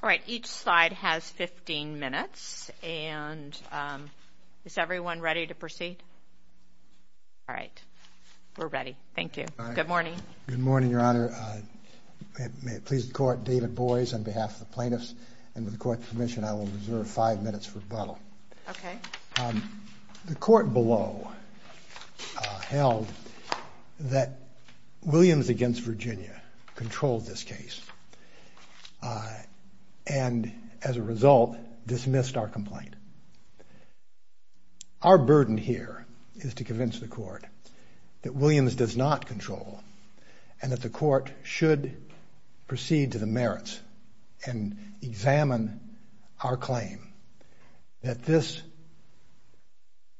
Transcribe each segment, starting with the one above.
All right, each slide has 15 minutes, and is everyone ready to proceed? All right, we're ready. Thank you. Good morning. Good morning, Your Honor. May it please the Court, David Boies, on behalf of the plaintiffs, and with the Court's permission, I will reserve five minutes for rebuttal. Okay. The Court below held that Williams v. Virginia controlled this case, and as a result, dismissed our complaint. Our burden here is to convince the Court that Williams does not control, and that the Court should proceed to the merits and examine our claim that this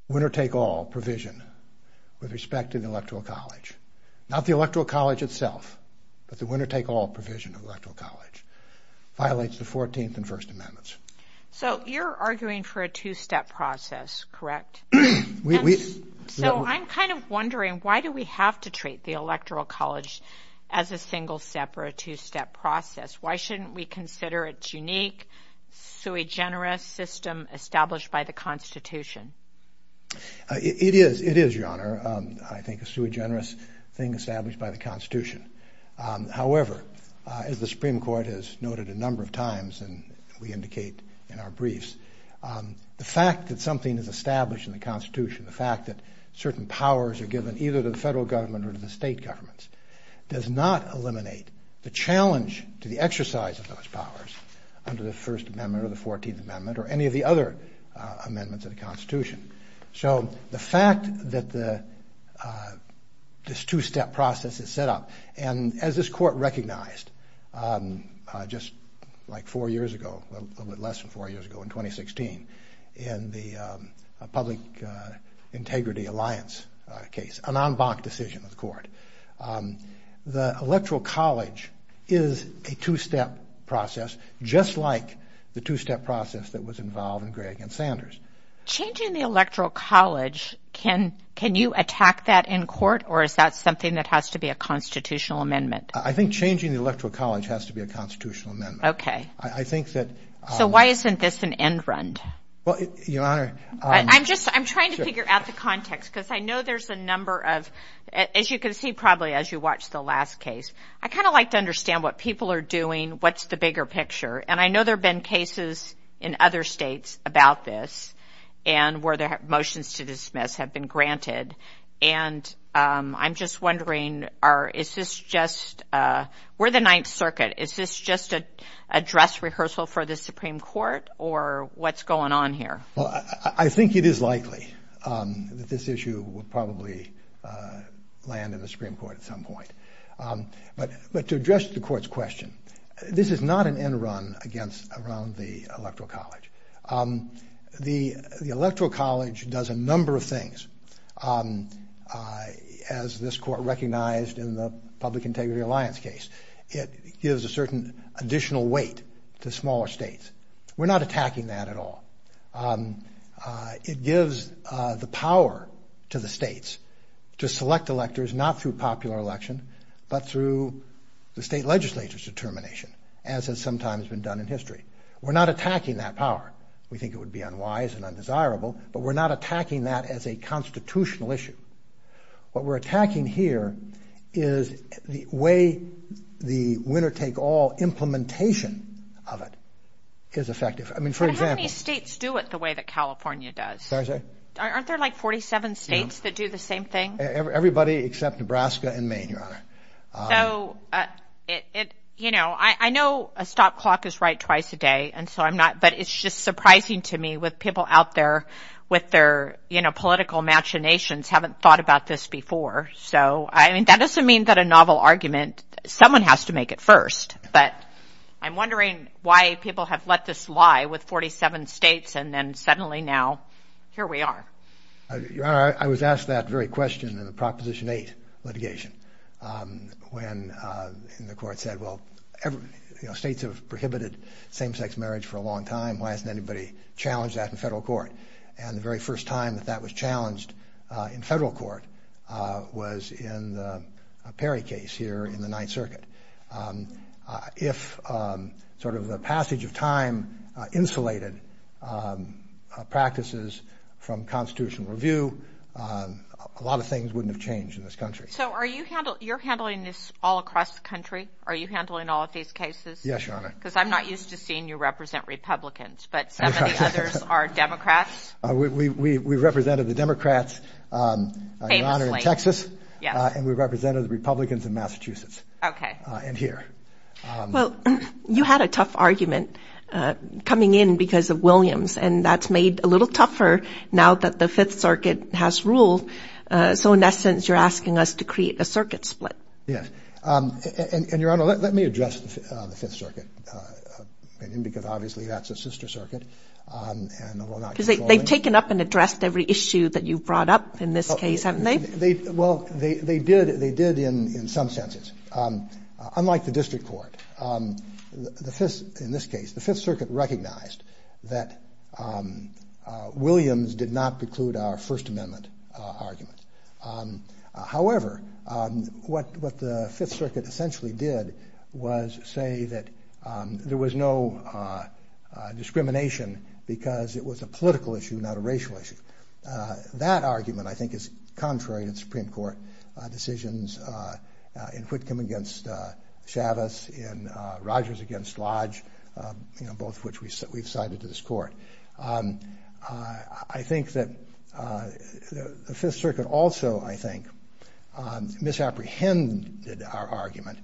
winner-take-all provision with respect to the Electoral College, not the Electoral College itself, but the winner-take-all provision of the Electoral College, violates the 14th and First Amendments. So you're arguing for a two-step process, correct? So I'm kind of wondering, why do we have to treat the Electoral College as a single-step or a two-step process? Why shouldn't we consider its unique, sui generis system established by the Constitution? It is, Your Honor. I think it's a sui generis thing established by the Constitution. However, as the Supreme Court has noted a number of times, and we indicate in our briefs, the fact that something is established in the Constitution, the fact that certain powers are given either to the federal government or to the state governments, does not eliminate the challenge to the exercise of those powers under the First Amendment or the 14th Amendment or any of the other amendments of the Constitution. So the fact that this two-step process is set up, and as this Court recognized just four years ago, a little bit less than four years ago, in 2016, in the Public Integrity Alliance case, an en banc decision of the Court, the Electoral College is a two-step process, just like the two-step process that was involved in Greg and Sanders. Changing the Electoral College, can you attack that in court, or is that something that has to be a constitutional amendment? I think changing the Electoral College has to be a constitutional amendment. I think that... So why isn't this an end-run? Well, Your Honor... I'm just... I'm trying to figure out the context, because I know there's a number of... As you can see, probably, as you watched the last case, I kind of like to understand what people are doing, what's the bigger picture, and I know there have been cases in other states about this, and where the motions to dismiss have been granted, and I'm just wondering, is this just... We're the Ninth Circuit, is this just a dress rehearsal for the Supreme Court, or what's going on here? Well, I think it is likely that this issue will probably land in the Supreme Court at some point. But to address the Court's question, this is not an end-run around the Electoral College. The Electoral College does a number of things, as this Court recognized in the Public Integrity Alliance case. It gives a certain additional weight to smaller states. We're not attacking that at all. It gives the power to the states to select electors, not through popular election, but through the state legislature's determination, as has sometimes been done in history. We're not attacking that power. We think it would be unwise and undesirable, but we're not attacking that as a constitutional issue. What we're attacking here is the way the winner-take-all implementation of it is effective. I mean, for example... But how many states do it the way that California does? Sorry, say? Aren't there like 47 states that do the same thing? Everybody except Nebraska and Maine, Your Honor. So, you know, I know a stop clock is right twice a day, and so I'm not... But it's just surprising to me with people out there with their, you know, political imaginations haven't thought about this before. So I mean, that doesn't mean that a novel argument, someone has to make it first. But I'm wondering why people have let this lie with 47 states, and then suddenly now, here we are. Your Honor, I was asked that very question in the Proposition 8 litigation, when the court said, well, states have prohibited same-sex marriage for a long time, why hasn't anybody challenged that in federal court? And the very first time that that was challenged in federal court was in the Perry case here in the Ninth Circuit. But if sort of the passage of time insulated practices from constitutional review, a lot of things wouldn't have changed in this country. So are you handling... You're handling this all across the country? Are you handling all of these cases? Yes, Your Honor. Because I'm not used to seeing you represent Republicans, but some of the others are Democrats. We represented the Democrats, Your Honor, in Texas, and we represented the Republicans in Massachusetts. Okay. And here. Well, you had a tough argument coming in because of Williams, and that's made a little tougher now that the Fifth Circuit has ruled. So in essence, you're asking us to create a circuit split. Yes. And Your Honor, let me address the Fifth Circuit, because obviously that's a sister circuit. They've taken up and addressed every issue that you've brought up in this case, haven't they? Well, they did in some senses. Unlike the district court, in this case, the Fifth Circuit recognized that Williams did not preclude our First Amendment argument. However, what the Fifth Circuit essentially did was say that there was no discrimination because it was a political issue, not a racial issue. That argument, I think, is contrary to the Supreme Court decisions in Whitcomb against Chavez, in Rogers against Lodge, both of which we've cited to this court. I think that the Fifth Circuit also, I think, misapprehended our argument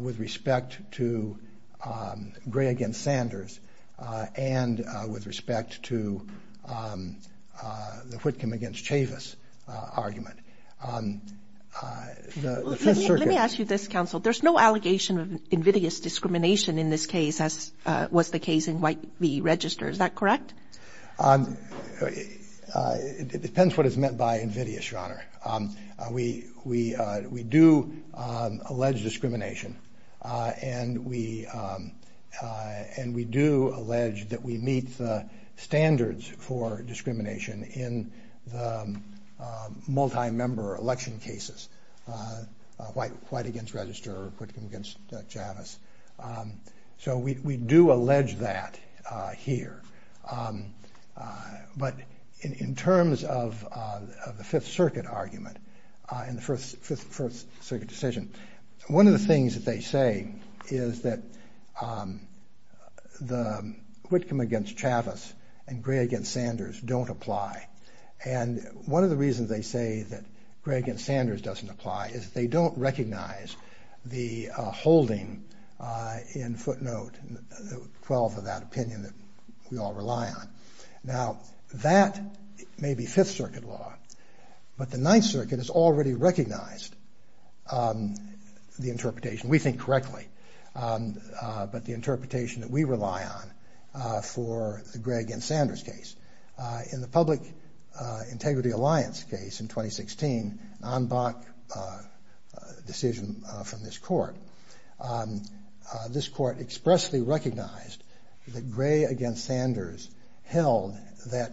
with respect to the Whitcomb against Chavez argument. Let me ask you this, counsel. There's no allegation of invidious discrimination in this case, as was the case in White v. Register. Is that correct? We do allege discrimination and we do allege that we meet the standards for discrimination in the multi-member election cases, White v. Register, Whitcomb v. Chavez. So we do allege that here. But in terms of the Fifth Circuit argument and the Fifth Circuit decision, one of the things that they say is that the Whitcomb against Chavez and Gray against Sanders don't apply. And one of the reasons they say that Gray against Sanders doesn't apply is they don't recognize the holding in footnote 12 of that opinion that we all rely on. Now, that may be Fifth Circuit law, but the Ninth Circuit has already recognized the interpretation, we think correctly, but the interpretation that we rely on for the Gray against Sanders case. In the Public Integrity Alliance case in 2016, an en banc decision from this court, this court expressly recognized that Gray against Sanders held that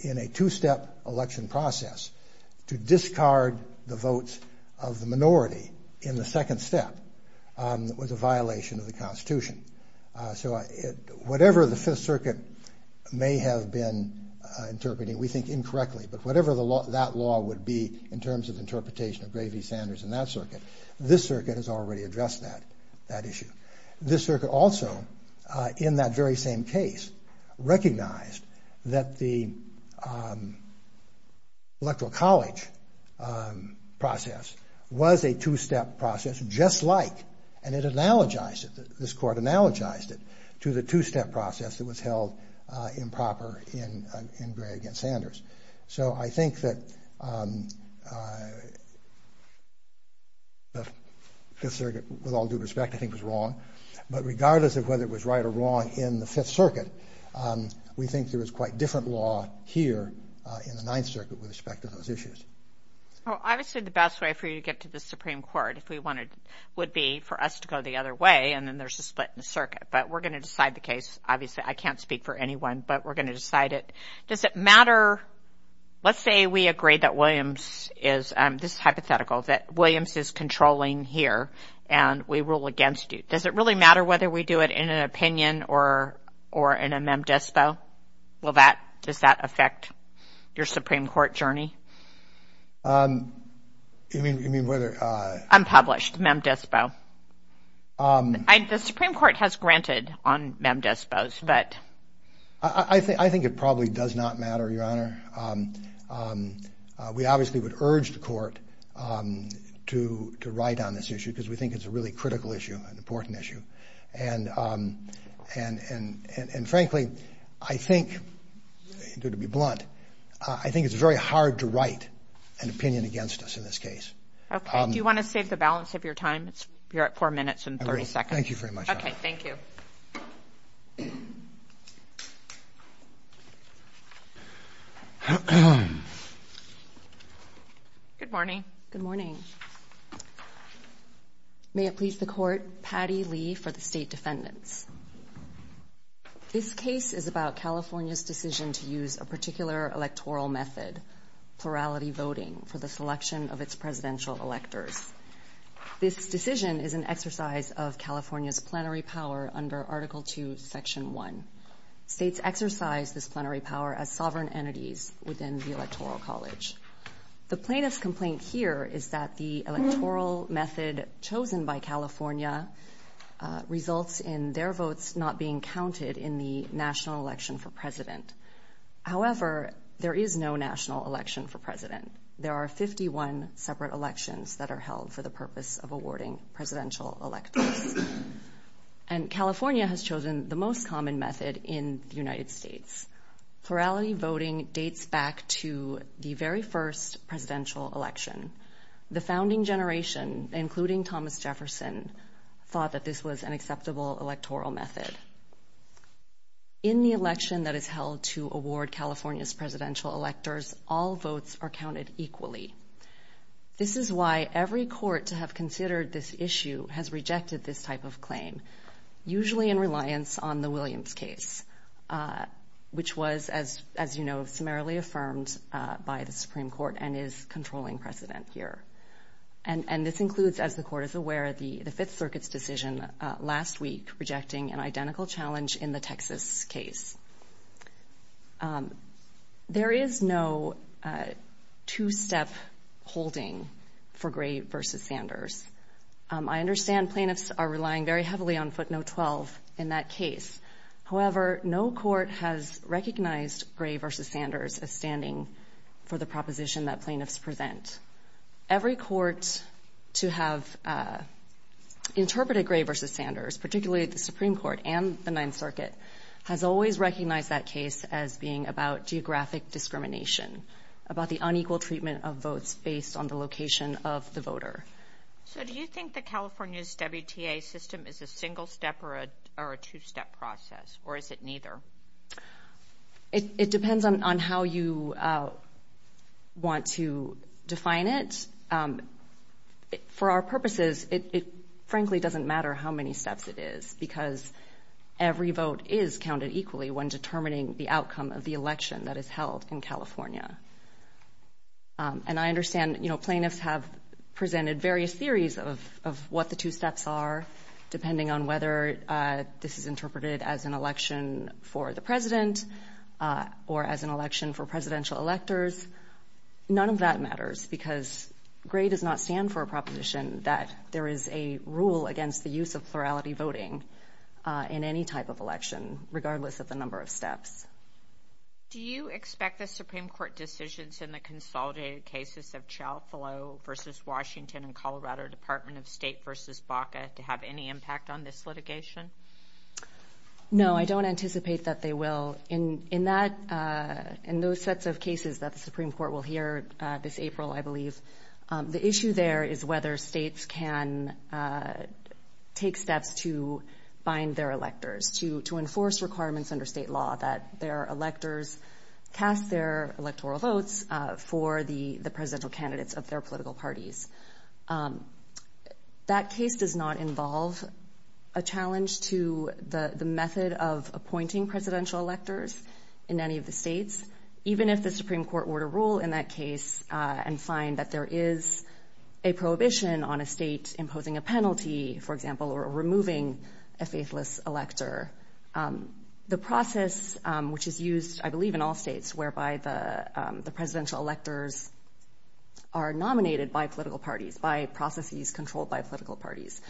in a two-step election process, to discard the votes of the minority in the second step was a violation of the two-step process that we have been interpreting, we think incorrectly, but whatever that law would be in terms of interpretation of Gray v. Sanders in that circuit, this circuit has already addressed that issue. This circuit also, in that very same case, recognized that the Electoral College process was a two-step process just like, and it analogized it, this court analogized it to the two-step process that was held improper in Gray against Sanders. So I think that the Fifth Circuit, with all due respect, I think was wrong. But regardless of whether it was right or wrong in the Fifth Circuit, we think there is quite different law here in the Ninth Circuit with respect to those issues. Well, obviously, the best way for you to get to the Supreme Court, if we wanted, would be for us to go the other way, and then there's a split in the circuit. But we're going to decide the case. Obviously, I can't speak for anyone, but we're going to decide it. Does it matter? Let's say we agree that Williams is, this is hypothetical, that Williams is controlling here and we rule against you. Does it really matter whether we do it in an opinion or in a mem dispo? Will that, does that affect your Supreme Court journey? You mean whether... Unpublished, mem dispo. The Supreme Court has granted on mem dispos, but... I think it probably does not matter, Your Honor. We obviously would urge the court to write on this issue because we think it's a really critical issue, an important issue. And frankly, I think, to be blunt, I think it's very hard to write an opinion against us in this case. Okay, do you want to save the balance of your time? You're at four minutes and 30 seconds. Thank you very much. Okay, thank you. Good morning. Good morning. May it please the court, Patty Lee for the State Defendants. This case is about California's decision to use a particular electoral method, plurality voting, for the selection of its presidential electors. This decision is an exercise of California's plenary power under Article II, Section 1. States exercise this plenary power as sovereign entities within the electoral college. The plaintiff's complaint here is that the electoral method chosen by California results in their votes not being counted in the national election for president. However, there is no national election for president. There are 51 separate elections that are held for the purpose of awarding presidential electors. And California has chosen the most common method in the United States. Plurality voting dates back to the very first presidential election. The founding generation, including Thomas Jefferson, thought that this was an acceptable electoral method. In the election that is held to award California's presidential electors, all votes are counted equally. This is why every court to have considered this issue has rejected this type of claim, usually in reliance on the Williams case, which was, as you know, summarily affirmed by the Supreme Court and is controlling precedent here. And this includes, as the court is aware, the Fifth Circuit's decision last week rejecting an identical challenge in the Texas case. There is no two-step holding for Gray versus Sanders. I understand plaintiffs are relying very heavily on footnote 12 in that case. However, no court has recognized Gray versus Sanders as standing for the proposition that plaintiffs present. Every court to have interpreted Gray versus Sanders, particularly the Supreme Court and the Ninth Circuit, has always recognized that case as being about geographic discrimination, about the unequal treatment of votes based on the location of the voter. So do you think that California's WTA system is a single step or a two-step process, or is it neither? It depends on how you want to define it. For our purposes, it frankly doesn't matter how many steps it is because every vote is counted equally when determining the outcome of the election that is held in California. And I understand, you know, plaintiffs have presented various theories of what the two steps are, depending on whether this is interpreted as an election for the president or as an election for presidential electors. None of that matters because Gray does not stand for a proposition that there is a rule against the use of plurality voting in any type of election, regardless of the number of steps. Do you expect the Supreme Court decisions in the consolidated cases of Chalfillow versus Washington and Colorado Department of State versus Baca to have any impact on this litigation? No, I don't anticipate that they will. In those sets of cases that the Supreme Court will hear this April, I believe, the issue there is whether states can take steps to bind their electors, to enforce requirements under state law that their electors cast their electoral votes for the presidential candidates of their political parties. That case does not involve a challenge to the method of appointing presidential electors in any of the states, even if the Supreme Court were to rule in that case and find that there is a prohibition on a state imposing a penalty, for example, or removing a faithless elector. The process which is used, I believe, in all states whereby the presidential electors are nominated by political parties, by processes controlled by political parties,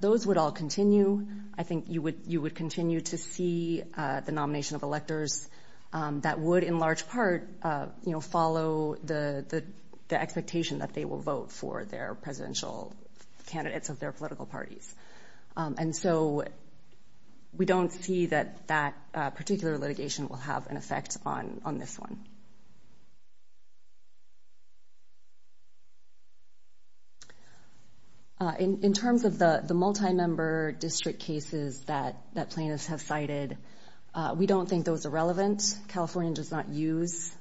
those would all continue. I think you would continue to see the nomination of electors that would, in large part, follow the expectation that they will vote for their presidential candidates of their political parties. And so we don't see that that particular litigation will have an effect on this one. In terms of the multi-member district cases that plaintiffs have cited, we don't think those are relevant. California does not use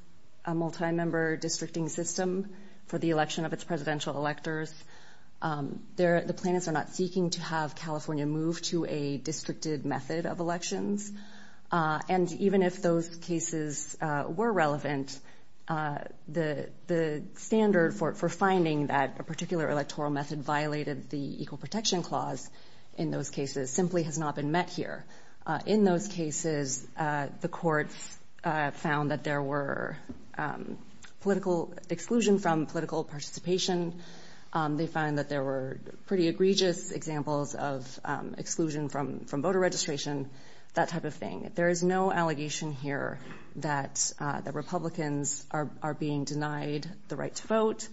a multi-member districting system for the election of its presidential electors. The plaintiffs are not seeking to have California move to a districted method of elections. And even if those cases were relevant, the standard for finding that a particular electoral method violated the Equal Protection Clause in those cases simply has not been met here. In those cases, the courts found that there were political exclusion from political participation. They found that there were pretty egregious examples of exclusion from voter registration, that type of thing. There is no allegation here that the Republicans are being denied the right to vote,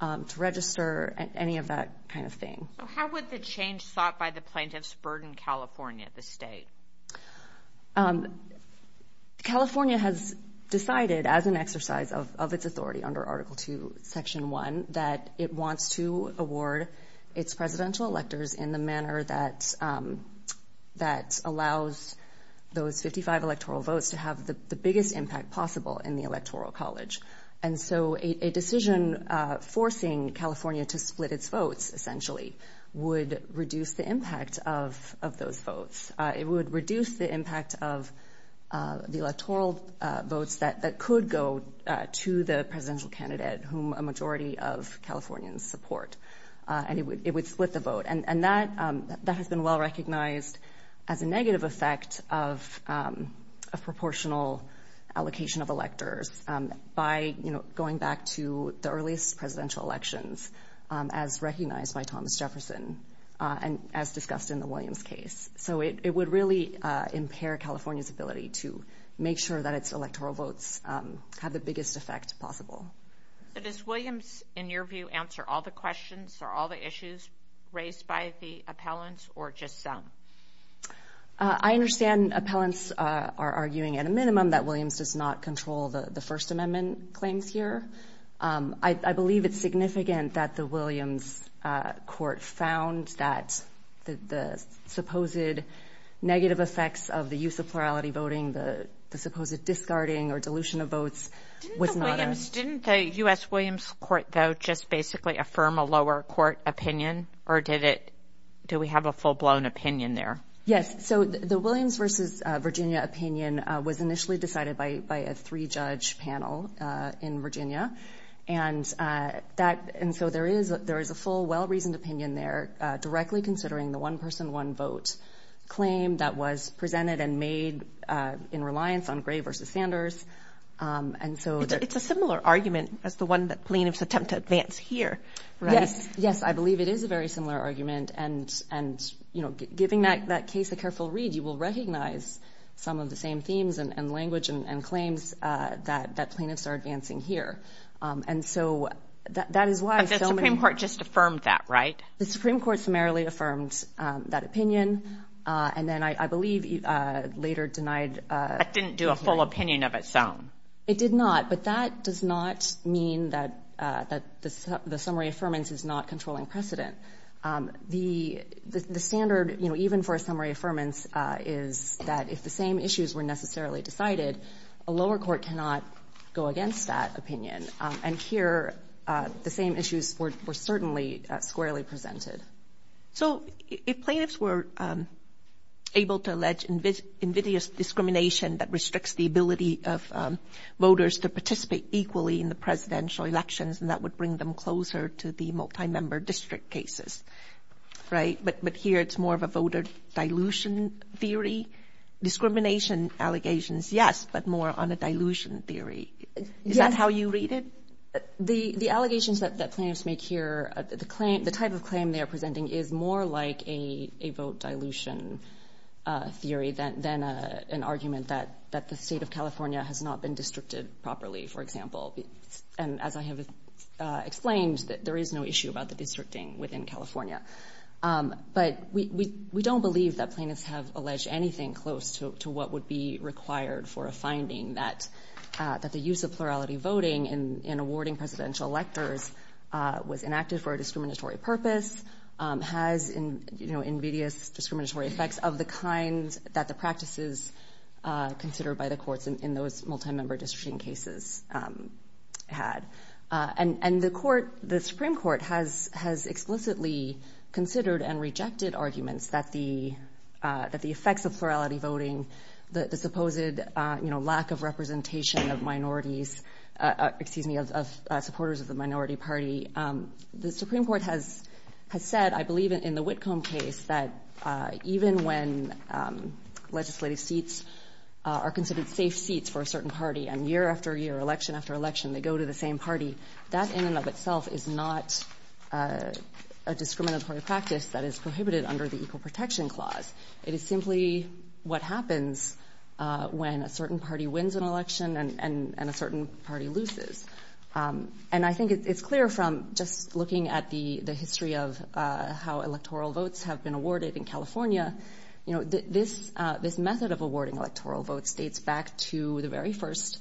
to register, any of that kind of thing. How would the change sought by the plaintiffs burden California, the state? California has decided as an exercise of its authority under Article 2, Section 1, that it wants to award its presidential electors in the manner that allows those 55 electoral votes to have the biggest impact possible in the electoral college. And so a decision forcing California to split its votes, essentially, would reduce the impact of those votes. It would reduce the impact of the electoral votes that could go to the presidential candidate whom a majority of Californians support. And it would split the vote. And that has been well recognized as a negative effect of a proportional allocation of electors by going back to the earliest presidential elections, as recognized by Thomas Jefferson and as discussed in the Williams case. So it would really impair California's ability to make sure that its electoral votes have the biggest effect possible. So does Williams, in your view, answer all the questions or all the issues raised by the appellants or just some? I understand appellants are arguing at a minimum that Williams does not control the First Amendment claims here. I believe it's significant that the Williams court found that the supposed negative effects of the use of plurality voting, the supposed discarding or dilution of votes was not. Didn't the U.S. Williams court, though, just basically affirm a lower court opinion or did it? Do we have a full blown opinion there? Yes. So the Williams versus Virginia opinion was initially decided by a three judge panel in Virginia. And that and so there is there is a full, well reasoned opinion there directly considering the one person, one vote claim that was presented and made in reliance on Gray versus Sanders. And so it's a similar argument as the one that plaintiffs attempt to advance here. Yes, yes. I believe it is a very similar argument. And and, you know, giving that that case a careful read, you will recognize some of the same themes and language and claims that that plaintiffs are advancing here. And so that is why the Supreme Court just affirmed that. Right. The Supreme Court summarily affirmed that opinion. And then I believe later denied it didn't do a full opinion of its own. It did not. But that does not mean that that the summary affirmance is not controlling precedent. The standard, you know, even for a summary affirmance is that if the same issues were necessarily decided, a lower court cannot go against that opinion. And here the same issues were certainly squarely presented. So if plaintiffs were able to allege invidious discrimination that restricts the ability of voters to participate equally in the presidential elections, and that would bring them closer to the multi-member district cases. Right. But but here it's more of a voter dilution theory, discrimination allegations, yes, but more on a dilution theory. Is that how you read it? The the allegations that that plaintiffs make here, the claim, the type of claim they are presenting is more like a vote dilution theory than an argument that that the state of California has not been districted properly, for example. And as I have explained, there is no issue about the districting within California. But we don't believe that plaintiffs have alleged anything close to what would be required for a finding that that the use of plurality voting in awarding presidential electors was enacted for a discriminatory purpose, has invidious discriminatory effects of the kind that the practices considered by the courts in those multi-member districting cases had. And the court, the Supreme Court has has explicitly considered and rejected arguments that the that the effects of plurality voting, the supposed lack of representation of minorities, excuse me, of supporters of the minority party. The Supreme Court has has said, I believe, in the Whitcomb case that even when legislative seats are considered safe seats for a certain party and year after year, election after election, they go to the same party, that in and of itself is not a discriminatory practice that is prohibited under the Equal Protection Clause. It is simply what happens when a certain party wins an election and a certain party loses. And I think it's clear from just looking at the history of how electoral votes have been awarded in California. You know, this this method of awarding electoral votes dates back to the very first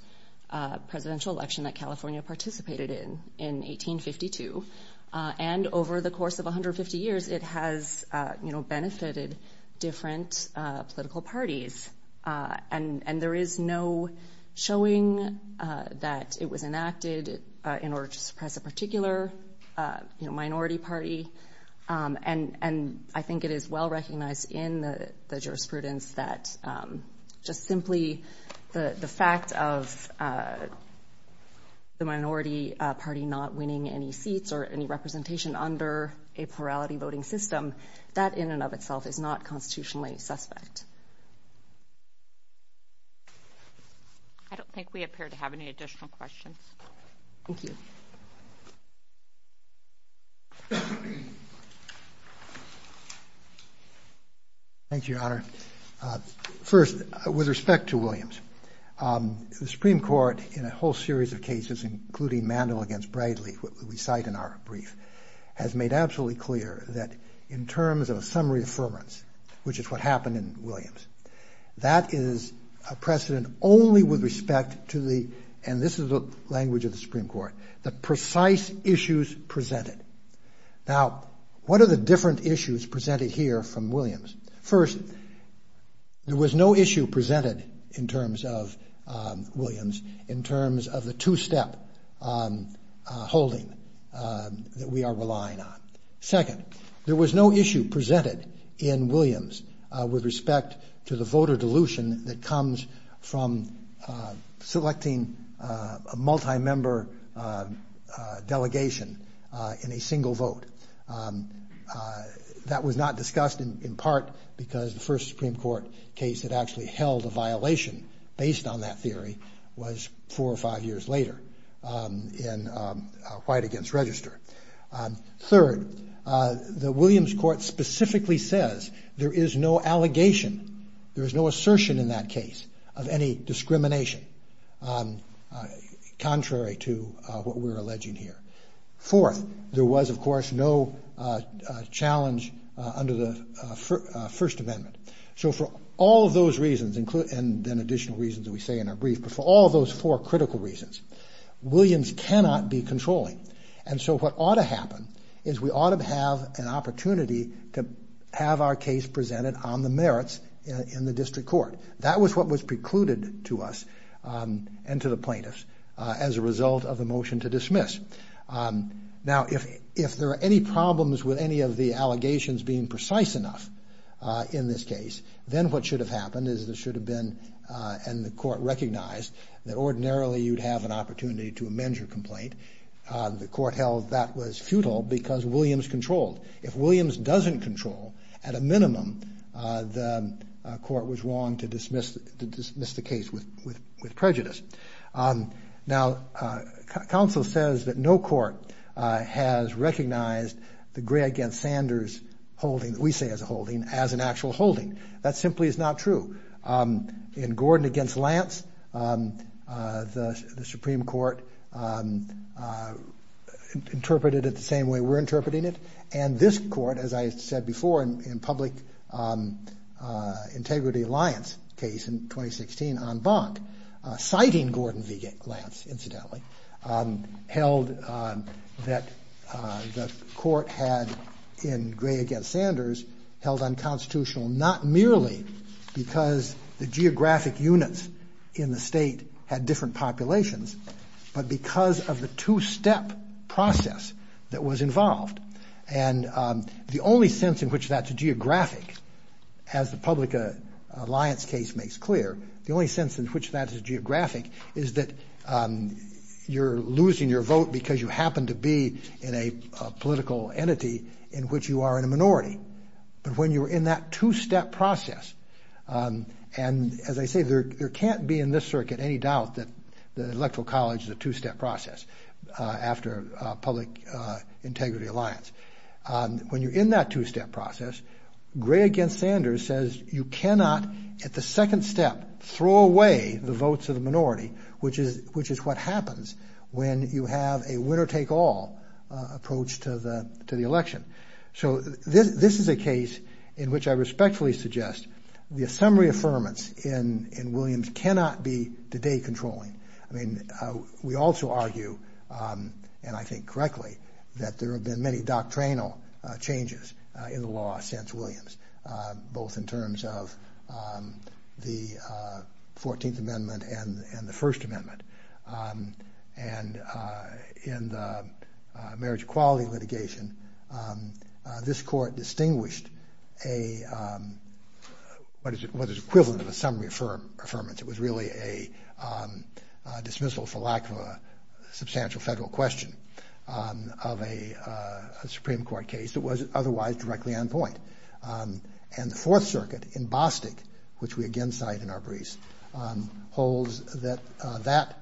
presidential election that California participated in in 1852. And over the course of 150 years, it has benefited different political parties. And there is no showing that it was enacted in order to suppress a particular minority party. And I think it is well recognized in the jurisprudence that just simply the fact of the minority party not winning any seats or any representation under a plurality voting system, that in and of itself is not constitutionally suspect. I don't think we appear to have any additional questions. Thank you. Thank you, Your Honor. First, with respect to Williams, the Supreme Court, in a whole series of cases, including Mandel against Bradley, what we cite in our brief, has made absolutely clear that in terms of a summary affirmance, which is what happened in Williams, that is a precedent only with respect to the and this is the language of the Supreme Court, the Now, what are the different issues presented here from Williams? First, there was no issue presented in terms of Williams in terms of the two-step holding that we are relying on. Second, there was no issue presented in Williams with respect to the voter dilution that comes from selecting a multi-member delegation in a single vote. That was not discussed in part because the first Supreme Court case that actually held a violation based on that theory was four or five years later in White against Register. Third, the Williams court specifically says there is no allegation, there is no assertion in that case of any discrimination contrary to what we're alleging here. Fourth, there was, of course, no challenge under the First Amendment. So for all of those reasons, and then additional reasons that we say in our brief, but for all of those four critical reasons, Williams cannot be controlling. And so what ought to happen is we ought to have an opportunity to have our case presented on the merits in the district court. That was what was precluded to us and to the plaintiffs as a result of the motion to dismiss. Now, if there are any problems with any of the allegations being precise enough in this case, then what should have happened is there should have been, and the court recognized, that ordinarily you'd have an opportunity to amend your complaint. The court held that was futile because Williams controlled. If Williams doesn't control, at a minimum, the court was wrong to dismiss the case with prejudice. Now, counsel says that no court has recognized the Gray against Sanders holding, that we say is a holding, as an actual holding. That simply is not true. In Gordon against Lance, the Supreme Court interpreted it the same way we're interpreting it. And this court, as I said before, in public integrity alliance case in 2016 on Gordon v. Lance, incidentally, held that the court had, in Gray against Sanders, held unconstitutional, not merely because the geographic units in the state had different populations, but because of the two-step process that was involved. And the only sense in which that's a geographic, as the public alliance case makes clear, the only sense in which that is geographic is that you're losing your vote because you happen to be in a political entity in which you are in a minority. But when you were in that two-step process, and as I say, there can't be in this circuit any doubt that the electoral college is a two-step process after public integrity alliance. When you're in that two-step process, Gray against Sanders says you cannot, at the second step, throw away the votes of the minority, which is what happens when you have a winner-take-all approach to the election. So this is a case in which I respectfully suggest the assembly affirmance in Williams cannot be today controlling. I mean, we also argue, and I think correctly, that there have been many the 14th Amendment and the First Amendment, and in the marriage equality litigation, this court distinguished what is equivalent of a summary affirmance. It was really a dismissal for lack of a substantial federal question of a Supreme Court case that was otherwise directly on point. And the Fourth Circuit in Bostick, which we again cite in our briefs, holds that that,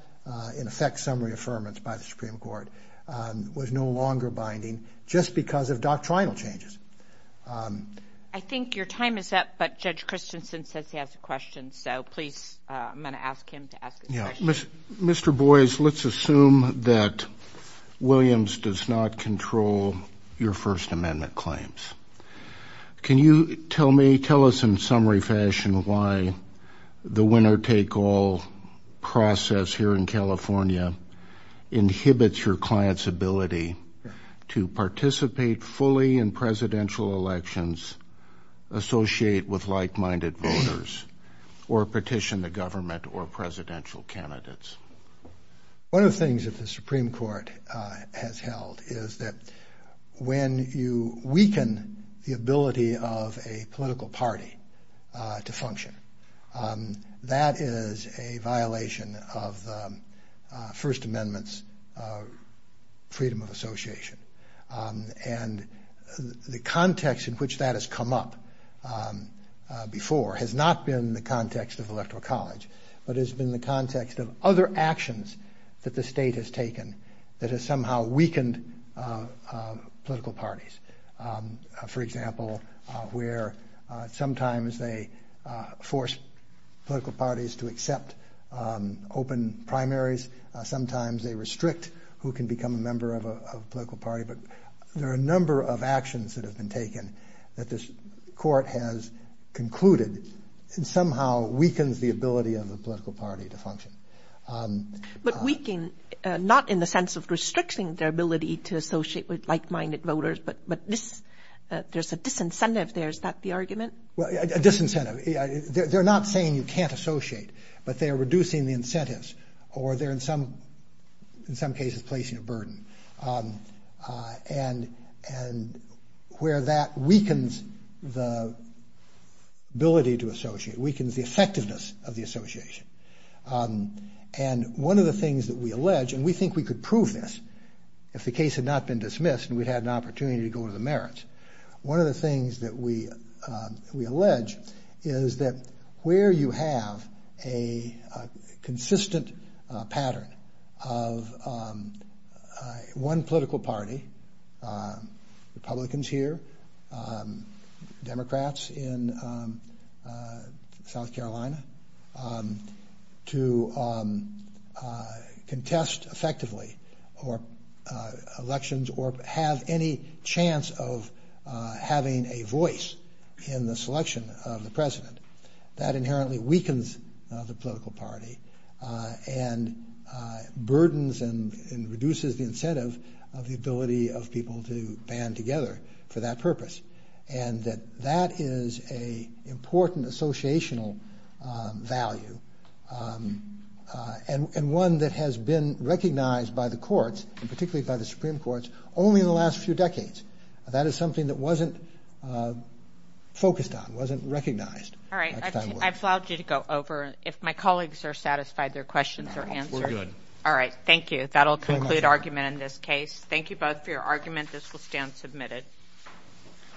in effect, summary affirmance by the Supreme Court was no longer binding just because of doctrinal changes. I think your time is up, but Judge Christensen says he has a question. So please, I'm going to ask him to ask a question. Mr. Boies, let's assume that Williams does not control your First Amendment claims. Can you tell me, tell us in summary fashion, why the winner-take-all process here in California inhibits your client's ability to participate fully in presidential elections, associate with like-minded voters, or petition the government or presidential candidates? One of the things that the Supreme Court has held is that when you weaken the ability of a political party to function, that is a violation of the First Amendment's freedom of association. And the context in which that has come up before has not been the context of actions that the state has taken that has somehow weakened political parties. For example, where sometimes they force political parties to accept open primaries, sometimes they restrict who can become a member of a political party. But there are a number of actions that have been taken that this court has concluded somehow weakens the ability of the political party to function. But weaken, not in the sense of restricting their ability to associate with like-minded voters, but this, there's a disincentive there. Is that the argument? Well, a disincentive. They're not saying you can't associate, but they are reducing the incentives, or they're in some cases placing a burden. And where that weakens the ability to associate, weakens the effectiveness of the association, and one of the things that we allege, and we think we could prove this if the case had not been dismissed and we'd had an opportunity to go to the merits, one of the things that we allege is that where you have a consistent pattern of one political party, Republicans here, Democrats in South Carolina, to contest effectively elections or have any chance of having a voice in the selection of the president. That inherently weakens the political party and burdens and reduces the incentive of the ability of people to band together for that purpose. And that that is a important associational value, and one that has been recognized by the courts, and particularly by the Supreme Courts, only in the last few decades. That is something that wasn't focused on, wasn't recognized. All right. I've allowed you to go over. If my colleagues are satisfied, their questions are answered. All right. Thank you. That'll conclude argument in this case. Thank you both for your argument. This will stand submitted.